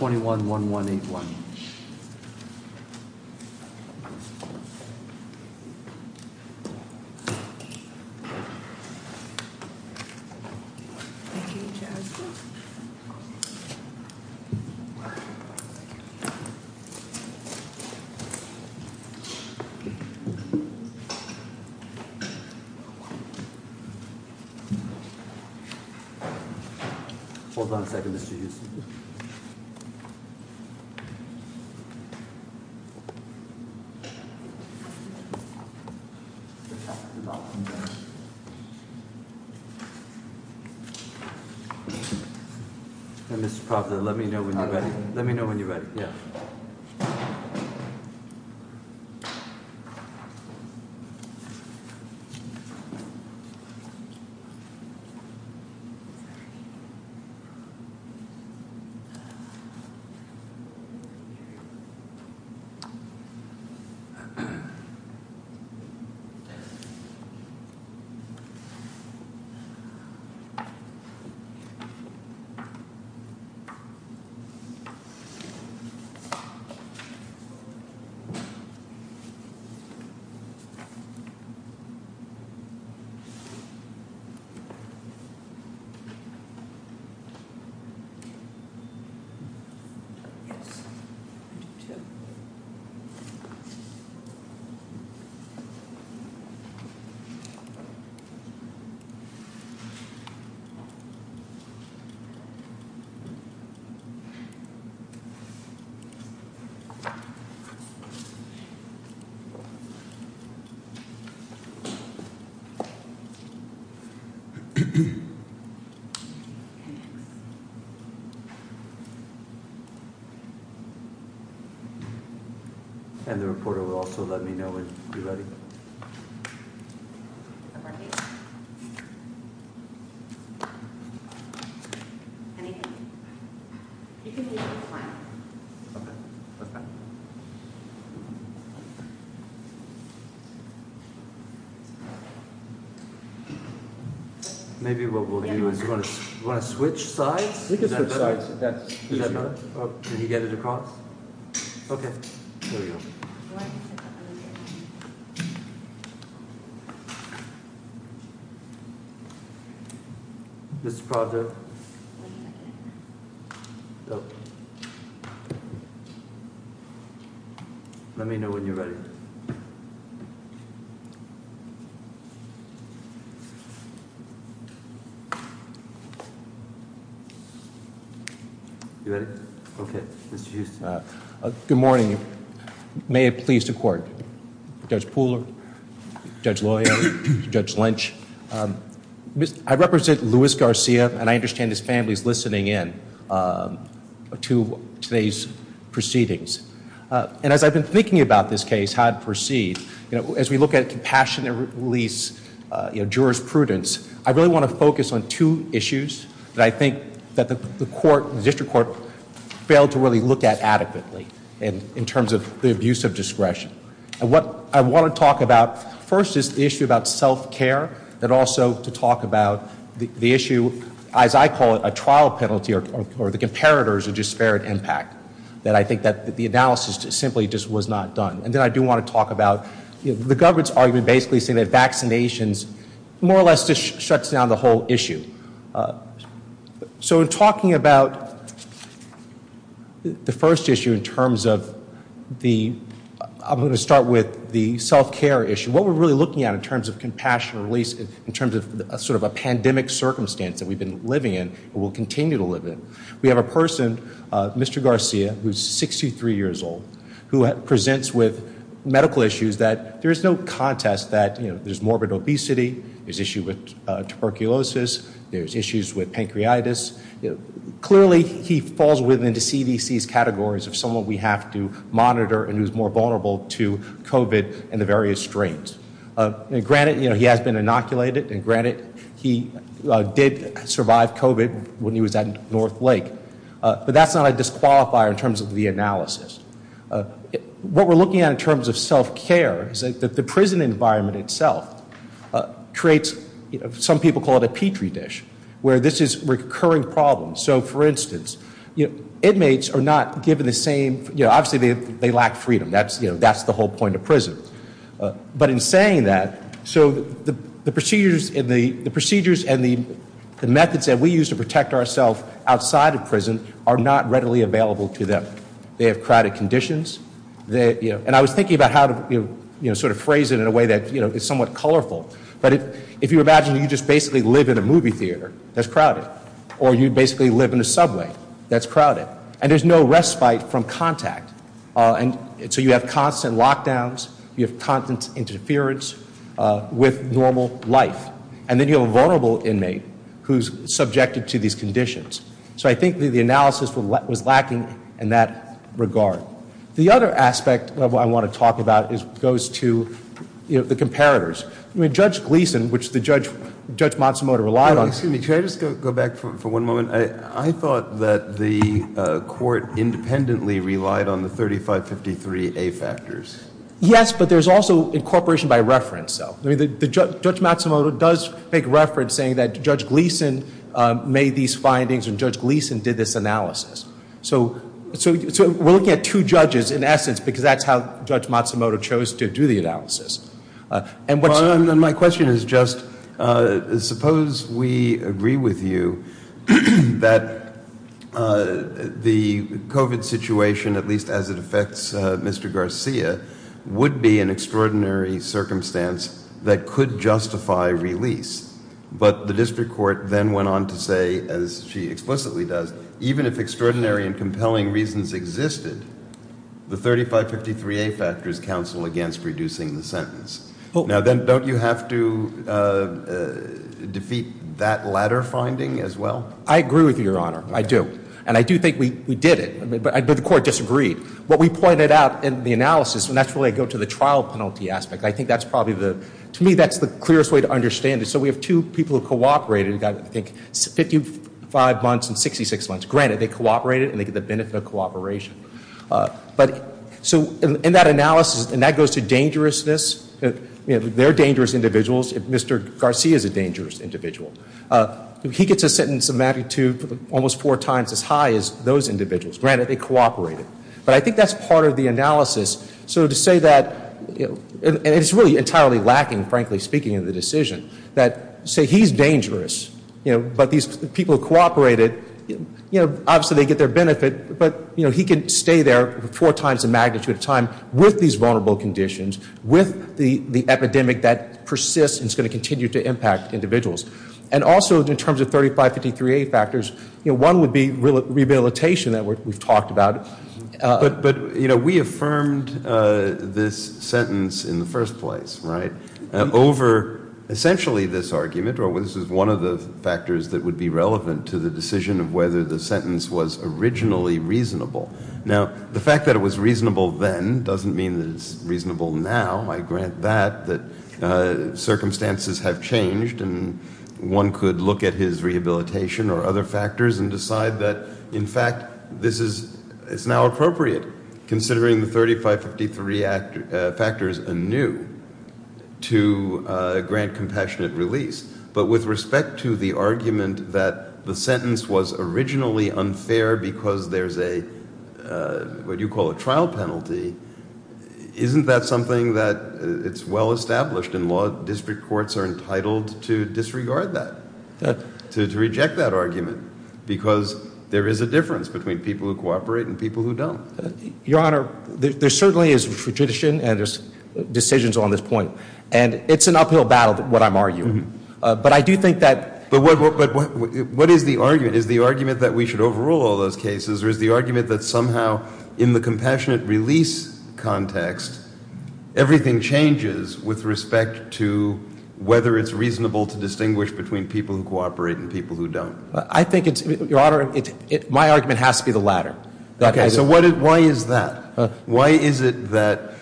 21-1181. Let me know when you're ready. Yeah. Yes. I do too. And the reporter will also let me know when you're ready. Okay. Maybe what we'll do is we're going to switch sides. Let me know when you're ready. Good morning. May it please the court. Judge Pooler. Judge lawyer. Judge Lynch. I represent Luis Garcia and I understand his family is listening in to today's proceedings. And as I've been thinking about this case, how it proceeds, as we look at compassion and release, jurisprudence, I really want to focus on two issues that I think that the court, the district court failed to really look at adequately in terms of the abuse of discretion. And what I want to talk about first is the issue about self-care, and also to talk about the issue, as I call it, a trial penalty or the comparators of disparate impact that I think that the analysis simply just was not done. And then I do want to talk about the government's argument basically saying that vaccinations more or less just shuts down the whole issue. So in talking about the first issue in terms of the, I'm going to start with the self-care issue, what we're really looking at in terms of compassion and release in terms of sort of a pandemic circumstance that we've been living in and will continue to live in, we have a person, Mr. Garcia, who's 63 years old, who presents with medical issues that there is no contest that there's morbid obesity, there's issue with tuberculosis, there's issues with pancreatitis. Clearly, he falls within the CDC's categories of someone we have to monitor and who's more vulnerable to COVID and the various strains. Granted, he has been inoculated, and granted, he did survive COVID when he was at North Lake, but that's not a disqualifier in terms of the analysis. What we're looking at in terms of self-care is that the prison environment itself creates, some people call it a Petri dish, where this is recurring problems. So for instance, inmates are not given the same, obviously, they lack freedom. That's the whole point of prison. But in saying that, so the procedures and the methods that we use to protect ourselves outside of prison are not readily available to them. They have crowded conditions, and I was thinking about how to sort of phrase it in a way that is somewhat colorful. But if you imagine you just basically live in a movie theater that's crowded, or you basically live in a subway that's crowded, and there's no respite from contact, so you have constant lockdowns, you have constant interference with normal life. And then you have a vulnerable inmate who's subjected to these conditions. So I think the analysis was lacking in that regard. The other aspect of what I want to talk about goes to the comparators. Judge Gleeson, which Judge Matsumoto relied on. Excuse me, can I just go back for one moment? I thought that the court independently relied on the 3553A factors. Yes, but there's also incorporation by reference, though. Judge Matsumoto does make reference saying that Judge Gleeson made these findings and Judge Gleeson did this analysis. So we're looking at two judges, in essence, because that's how Judge Matsumoto chose to do the analysis. My question is just, suppose we agree with you that the COVID situation, at least as it affects Mr. Garcia, would be an extraordinary circumstance that could justify release. But the district court then went on to say, as she explicitly does, that even if extraordinary and compelling reasons existed, the 3553A factors counsel against reducing the sentence. Now, then, don't you have to defeat that latter finding as well? I agree with you, Your Honor, I do. And I do think we did it, but the court disagreed. What we pointed out in the analysis, and that's where I go to the trial penalty aspect, I think that's probably the, to me, that's the clearest way to understand it. So we have two people who cooperated and got, I think, 55 months and 66 months. Granted, they cooperated and they get the benefit of cooperation. So in that analysis, and that goes to dangerousness. They're dangerous individuals. Mr. Garcia is a dangerous individual. He gets a sentence of magnitude almost four times as high as those individuals. Granted, they cooperated. But I think that's part of the analysis. So to say that, and it's really entirely lacking, frankly speaking, in the decision, that say he's dangerous, but these people cooperated, obviously they get their benefit, but he can stay there four times the magnitude of time with these vulnerable conditions, with the epidemic that persists and is going to continue to impact individuals. And also in terms of 3553A factors, one would be rehabilitation that we've talked about. But, you know, we affirmed this sentence in the first place, right, over essentially this argument, or this is one of the factors that would be relevant to the decision of whether the sentence was originally reasonable. Now, the fact that it was reasonable then doesn't mean that it's reasonable now. I grant that, that circumstances have changed and one could look at his rehabilitation or other factors and decide that, in fact, this is, it's now appropriate, considering the 3553 factors anew, to grant compassionate release. But with respect to the argument that the sentence was originally unfair because there's a, what you call a trial penalty, isn't that something that it's well established and law district courts are entitled to disregard that, to reject that argument? Because there is a difference between people who cooperate and people who don't. Your Honor, there certainly is tradition and there's decisions on this point. And it's an uphill battle, what I'm arguing. But I do think that... But what is the argument? Is the argument that we should overrule all those cases or is the argument that somehow in the compassionate release context, everything changes with respect to whether it's reasonable to distinguish between people who cooperate and people who don't? I think it's, Your Honor, my argument has to be the latter. Okay, so why is that? Why is it that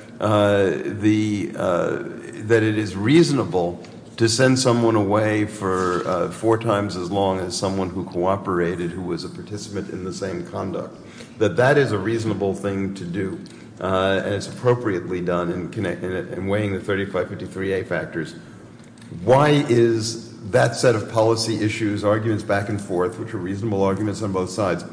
it is reasonable to send someone away for four times as long as someone who cooperated, who was a participant in the same conduct? That that is a reasonable thing to do and it's appropriately done in weighing the 3553A factors. Why is that set of policy issues, arguments back and forth, which are reasonable arguments on both sides,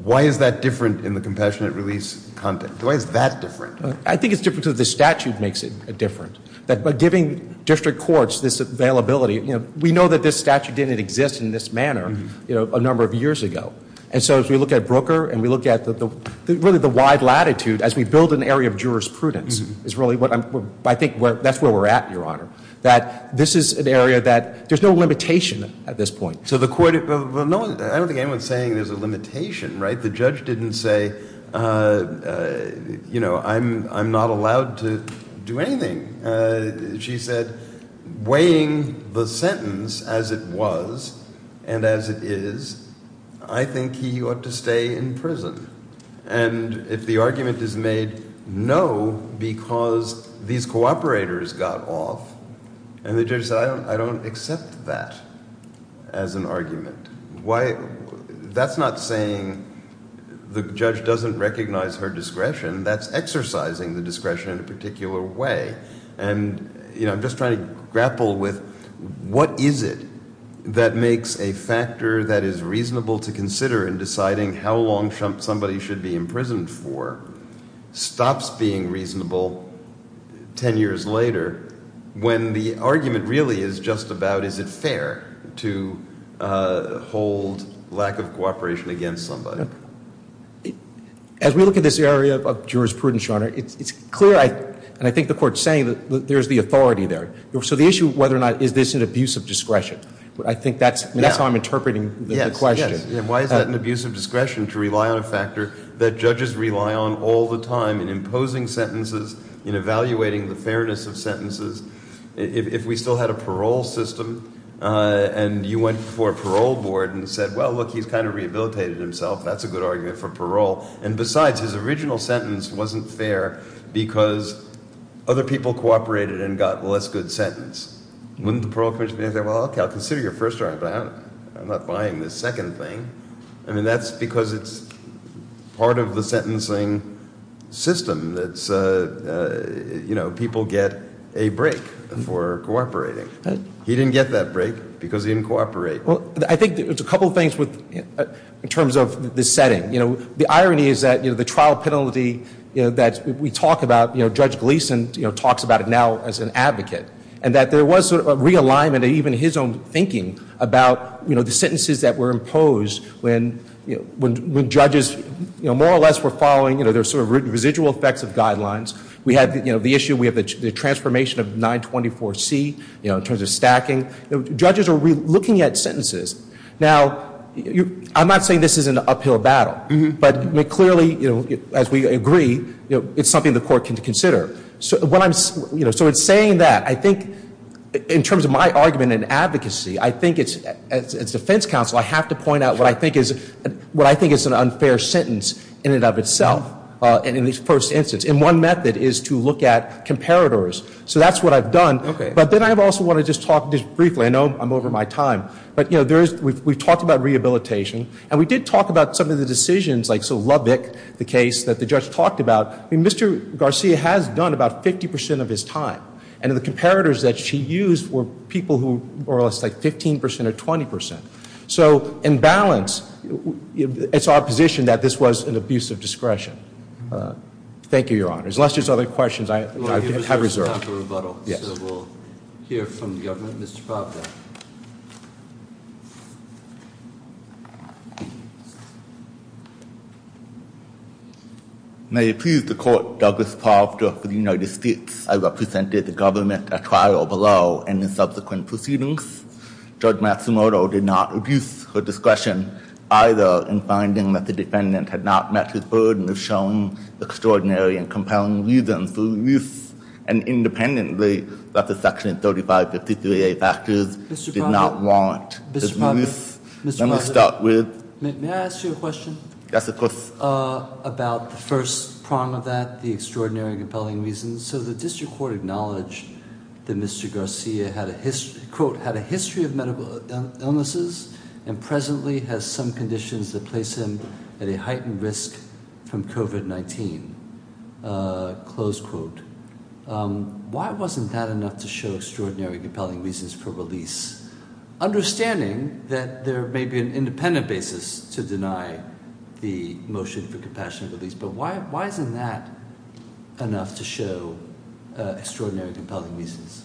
why is that different in the compassionate release context? Why is that different? I think it's different because the statute makes it different. By giving district courts this availability, we know that this statute didn't exist in this manner a number of years ago. And so as we look at Brooker and we look at really the wide latitude as we build an area of jurisprudence, I think that's where we're at, Your Honor, that this is an area that there's no limitation at this point. I don't think anyone's saying there's a limitation, right? The judge didn't say, you know, I'm not allowed to do anything. She said, weighing the sentence as it was and as it is, I think he ought to stay in prison. And if the argument is made, no, because these cooperators got off and the judge said, I don't accept that as an argument. Why? That's not saying the judge doesn't recognize her discretion. That's exercising the discretion in a particular way. And, you know, I'm just trying to grapple with what is it that makes a factor that is reasonable to consider in deciding how long somebody should be imprisoned for stops being reasonable 10 years later when the argument really is just about is it fair to hold lack of cooperation against somebody? As we look at this area of jurisprudence, Your Honor, it's clear, and I think the Court's saying that there's the authority there. So the issue of whether or not is this an abuse of discretion, I think that's how I'm interpreting the question. Why is that an abuse of discretion to rely on a factor that judges rely on all the time in imposing sentences, in evaluating the fairness of sentences? If we still had a parole system and you went for a parole board and said, well, look, he's kind of rehabilitated himself. That's a good argument for parole. And besides, his original sentence wasn't fair because other people cooperated and got a less good sentence. Wouldn't the parole commission be able to say, well, okay, I'll consider your first argument, but I'm not buying the second thing. I mean, that's because it's part of the sentencing system that's, you know, people get a break for cooperating. He didn't get that break because he didn't cooperate. Well, I think there's a couple things in terms of the setting. You know, the irony is that, you know, the trial penalty that we talk about, you know, Judge Gleeson talks about it now as an advocate and that there was a realignment of even his own thinking about, you know, the sentences that were imposed when judges, you know, more or less were following, you know, their sort of residual effects of guidelines. We have, you know, the issue, we have the transformation of 924C, you know, in terms of stacking. Judges are looking at sentences. Now, I'm not saying this is an uphill battle, but clearly, you know, as we agree, it's something the court can consider. So when I'm, you know, so in saying that, I think in terms of my argument in advocacy, I think it's, as defense counsel, I have to point out what I think is, what I think is an unfair sentence in and of itself, in this first instance. And one method is to look at comparators. So that's what I've done. Okay. But then I also want to just talk just briefly. I know I'm over my time. But, you know, there is, we've talked about rehabilitation. And we did talk about some of the decisions, like so Lubbock, the case that the judge talked about. I mean, Mr. Garcia has done about 50% of his time. And the comparators that she used were people who are less like 15% or 20%. So in balance, it's our position that this was an abuse of discretion. Thank you, Your Honors. Unless there's other questions, I have reserved. Yes. So we'll hear from the government. Mr. Proctor. Thank you, Your Honor. May it please the court, Douglas Proctor for the United States. I represented the government at trial below in the subsequent proceedings. Judge Matsumoto did not abuse her discretion, either, in finding that the defendant had not met his burden of showing extraordinary and compelling reasons for release, and independently that the section 3553A factors did not warrant. Mr. Proctor, may I ask you a question? Yes, of course. About the first prong of that, the extraordinary and compelling reasons. So the district court acknowledged that Mr. Garcia had a history of medical illnesses and presently has some conditions that place him at a heightened risk from COVID-19. Close quote. Why wasn't that enough to show extraordinary and compelling reasons for release? Understanding that there may be an independent basis to deny the motion for compassionate release, but why isn't that enough to show extraordinary and compelling reasons?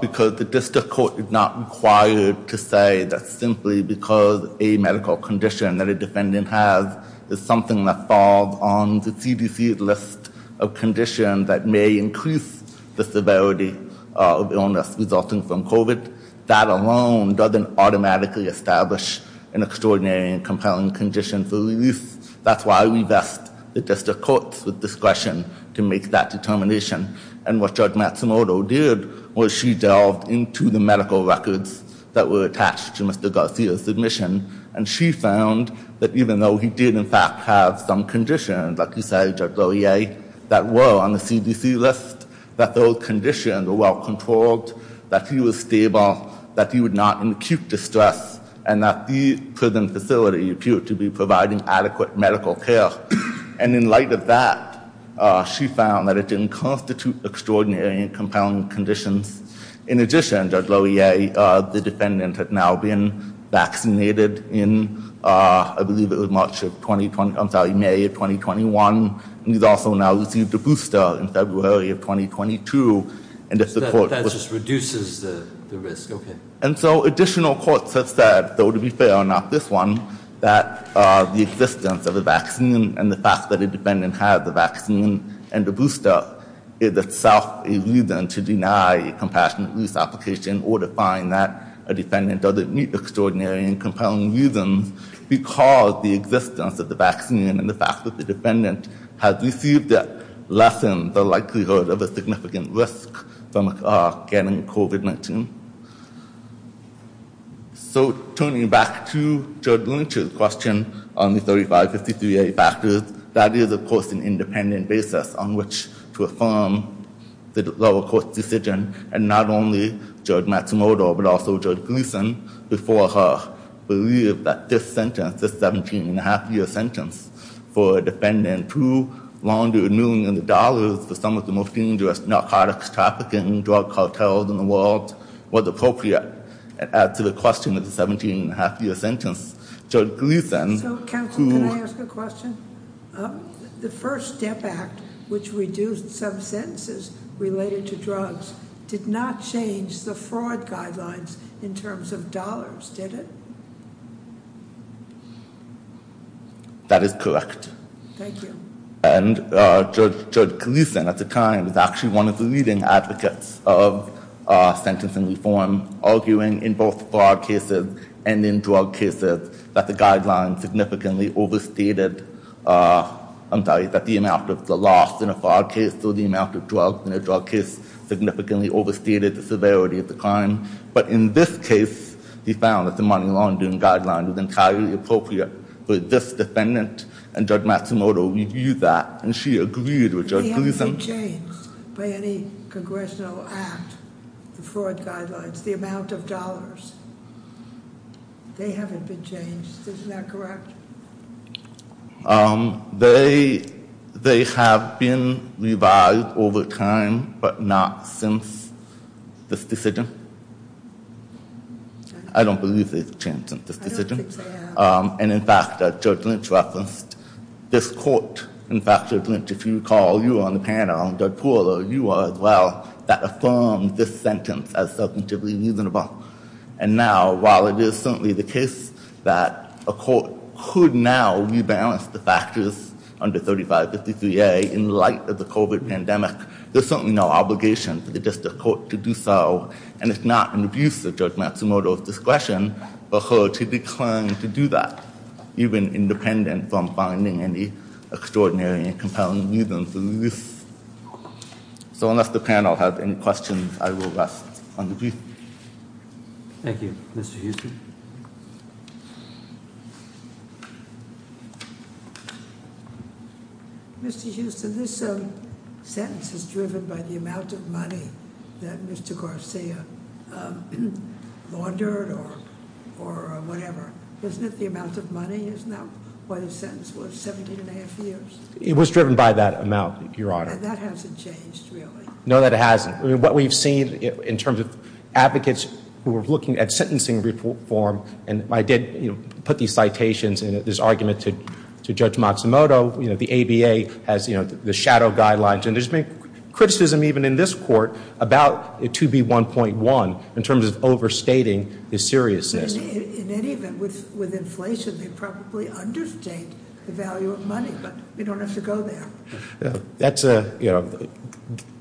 Because the district court is not required to say that simply because a medical condition that a defendant has is something that falls on the CDC's list of conditions that may increase the severity of illness resulting from COVID. That alone doesn't automatically establish an extraordinary and compelling condition for release. That's why we vest the district courts with discretion to make that determination. And what Judge Matsumoto did was she delved into the medical records that were attached to Mr. Garcia's admission, and she found that even though he did, in fact, have some conditions, like you said, Judge Laurier, that were on the CDC list, that those conditions were well controlled, that he was stable, that he was not in acute distress, and that the prison facility appeared to be providing adequate medical care. And in light of that, she found that it didn't constitute extraordinary and compelling conditions. In addition, Judge Laurier, the defendant had now been vaccinated in, I believe it was March of 2020, I'm sorry, May of 2021. He's also now received a booster in February of 2022, and if the court- That just reduces the risk, okay. And so additional courts have said, though to be fair, not this one, that the existence of a vaccine and the fact that a defendant has the vaccine and the booster is itself a reason to deny a compassionate use application or to find that a defendant doesn't meet extraordinary and compelling reasons because the existence of the vaccine and the fact that the defendant has received it lessens the likelihood of a significant risk from getting COVID-19. So turning back to Judge Lynch's question on the 35-53-A factors, that is, of course, an independent basis on which to affirm the lower court's decision and not only Judge Matsumoto but also Judge Gleeson before her believed that this sentence, this 17-and-a-half-year sentence for a defendant who laundered millions of dollars for some of the most dangerous narcotics trafficking drug cartels in the world was appropriate to the question of the 17-and-a-half-year sentence. Judge Gleeson, who- So, counsel, can I ask a question? The FIRST STEP Act, which reduced some sentences related to drugs, did not change the fraud guidelines in terms of dollars, did it? That is correct. Thank you. And Judge Gleeson, at the time, was actually one of the leading advocates of sentencing reform, arguing in both fraud cases and in drug cases that the guideline significantly overstated- I'm sorry, that the amount of the loss in a fraud case or the amount of drugs in a drug case significantly overstated the severity of the crime. But in this case, he found that the money laundering guideline was entirely appropriate for this defendant, and Judge Matsumoto reviewed that, and she agreed with Judge Gleeson- They haven't been changed by any congressional act, the fraud guidelines, the amount of dollars. They haven't been changed, isn't that correct? They have been revised over time, but not since this decision. I don't believe they've changed since this decision. I don't think they have. And in fact, Judge Lynch referenced this court. In fact, Judge Lynch, if you recall, you were on the panel, and Judge Pooler, you were as well, that affirmed this sentence as subjectively reasonable. And now, while it is certainly the case that a court could now rebalance the factors under 3553A in light of the COVID pandemic, there's certainly no obligation for the district court to do so, and it's not an abuse of Judge Matsumoto's discretion for her to decline to do that, even independent from finding any extraordinary and compelling reason for this. So unless the panel has any questions, I will rest on the brief. Thank you. Mr. Houston? Thank you. Mr. Houston, this sentence is driven by the amount of money that Mr. Garcia laundered or whatever. Isn't it the amount of money? Isn't that what his sentence was, 17 and a half years? It was driven by that amount, Your Honor. And that hasn't changed, really? No, that hasn't. What we've seen in terms of advocates who are looking at sentencing reform, and I did put these citations in this argument to Judge Matsumoto, the ABA has the shadow guidelines, and there's been criticism even in this court about it to be 1.1 in terms of overstating the seriousness. In any event, with inflation, they probably understate the value of money, but we don't have to go there.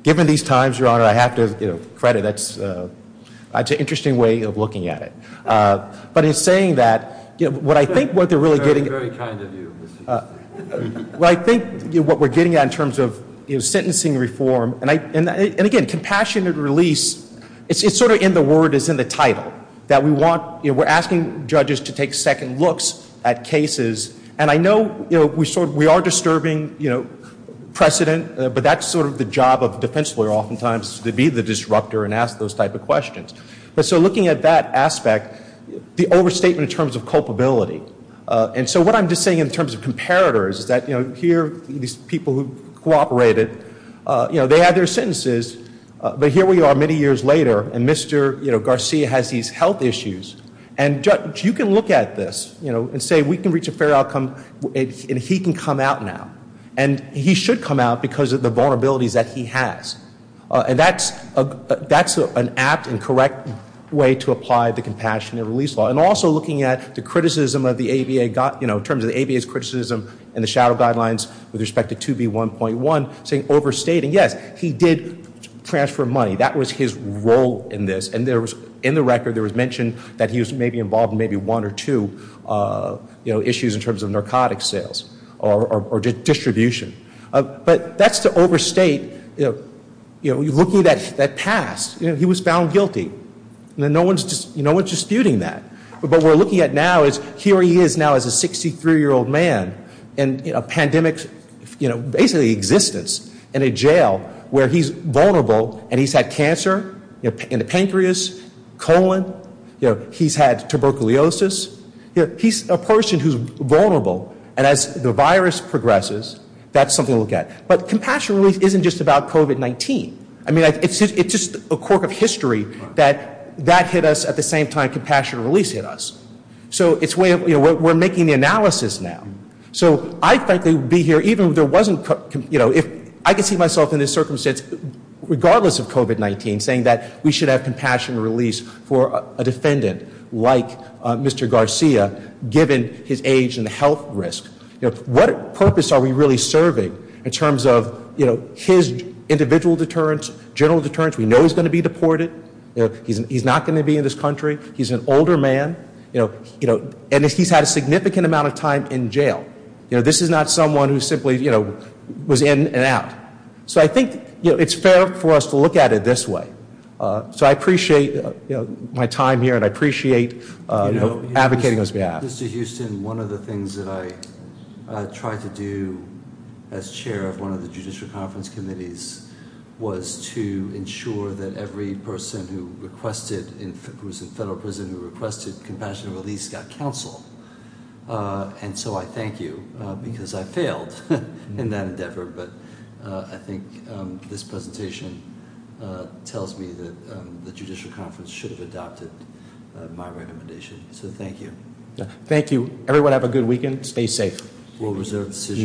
Given these times, Your Honor, I have to credit, that's an interesting way of looking at it. But in saying that, what I think what they're really getting at Very kind of you, Mr. Houston. What I think what we're getting at in terms of sentencing reform, and again, compassionate release, it's sort of in the word, it's in the title, that we're asking judges to take second looks at cases, and I know we are disturbing precedent, but that's sort of the job of a defense lawyer oftentimes, to be the disruptor and ask those type of questions. But so looking at that aspect, the overstatement in terms of culpability, and so what I'm just saying in terms of comparators is that here, these people who cooperated, they had their sentences, but here we are many years later, and Mr. Garcia has these health issues, and you can look at this and say we can reach a fair outcome, and he can come out now, and he should come out because of the vulnerabilities that he has, and that's an apt and correct way to apply the compassionate release law, and also looking at the criticism of the ABA, in terms of the ABA's criticism, and the shadow guidelines with respect to 2B1.1, saying overstating, yes, he did transfer money. That was his role in this, and in the record, there was mention that he was maybe involved in maybe one or two issues in terms of narcotics sales or distribution. But that's to overstate looking at that past. He was found guilty, and no one's disputing that. But what we're looking at now is here he is now as a 63-year-old man, in a pandemic, basically existence, in a jail where he's vulnerable, and he's had cancer in the pancreas, colon. He's had tuberculosis. He's a person who's vulnerable, and as the virus progresses, that's something to look at. But compassionate release isn't just about COVID-19. I mean, it's just a quirk of history that that hit us at the same time compassionate release hit us. So it's way of, you know, we're making the analysis now. So I'd frankly be here even if there wasn't, you know, if I could see myself in this circumstance, regardless of COVID-19, saying that we should have compassionate release for a defendant like Mr. Garcia, given his age and the health risk. What purpose are we really serving in terms of, you know, his individual deterrence, general deterrence? We know he's going to be deported. He's not going to be in this country. He's an older man, you know, and he's had a significant amount of time in jail. You know, this is not someone who simply, you know, was in and out. So I think, you know, it's fair for us to look at it this way. So I appreciate, you know, my time here, and I appreciate advocating on his behalf. Mr. Houston, one of the things that I tried to do as chair of one of the judicial conference committees was to ensure that every person who requested, who was in federal prison, who requested compassionate release got counsel. And so I thank you because I failed in that endeavor. But I think this presentation tells me that the judicial conference should have adopted my recommendation. So thank you. Thank you. Everyone have a good weekend. Stay safe. We'll reserve the decision.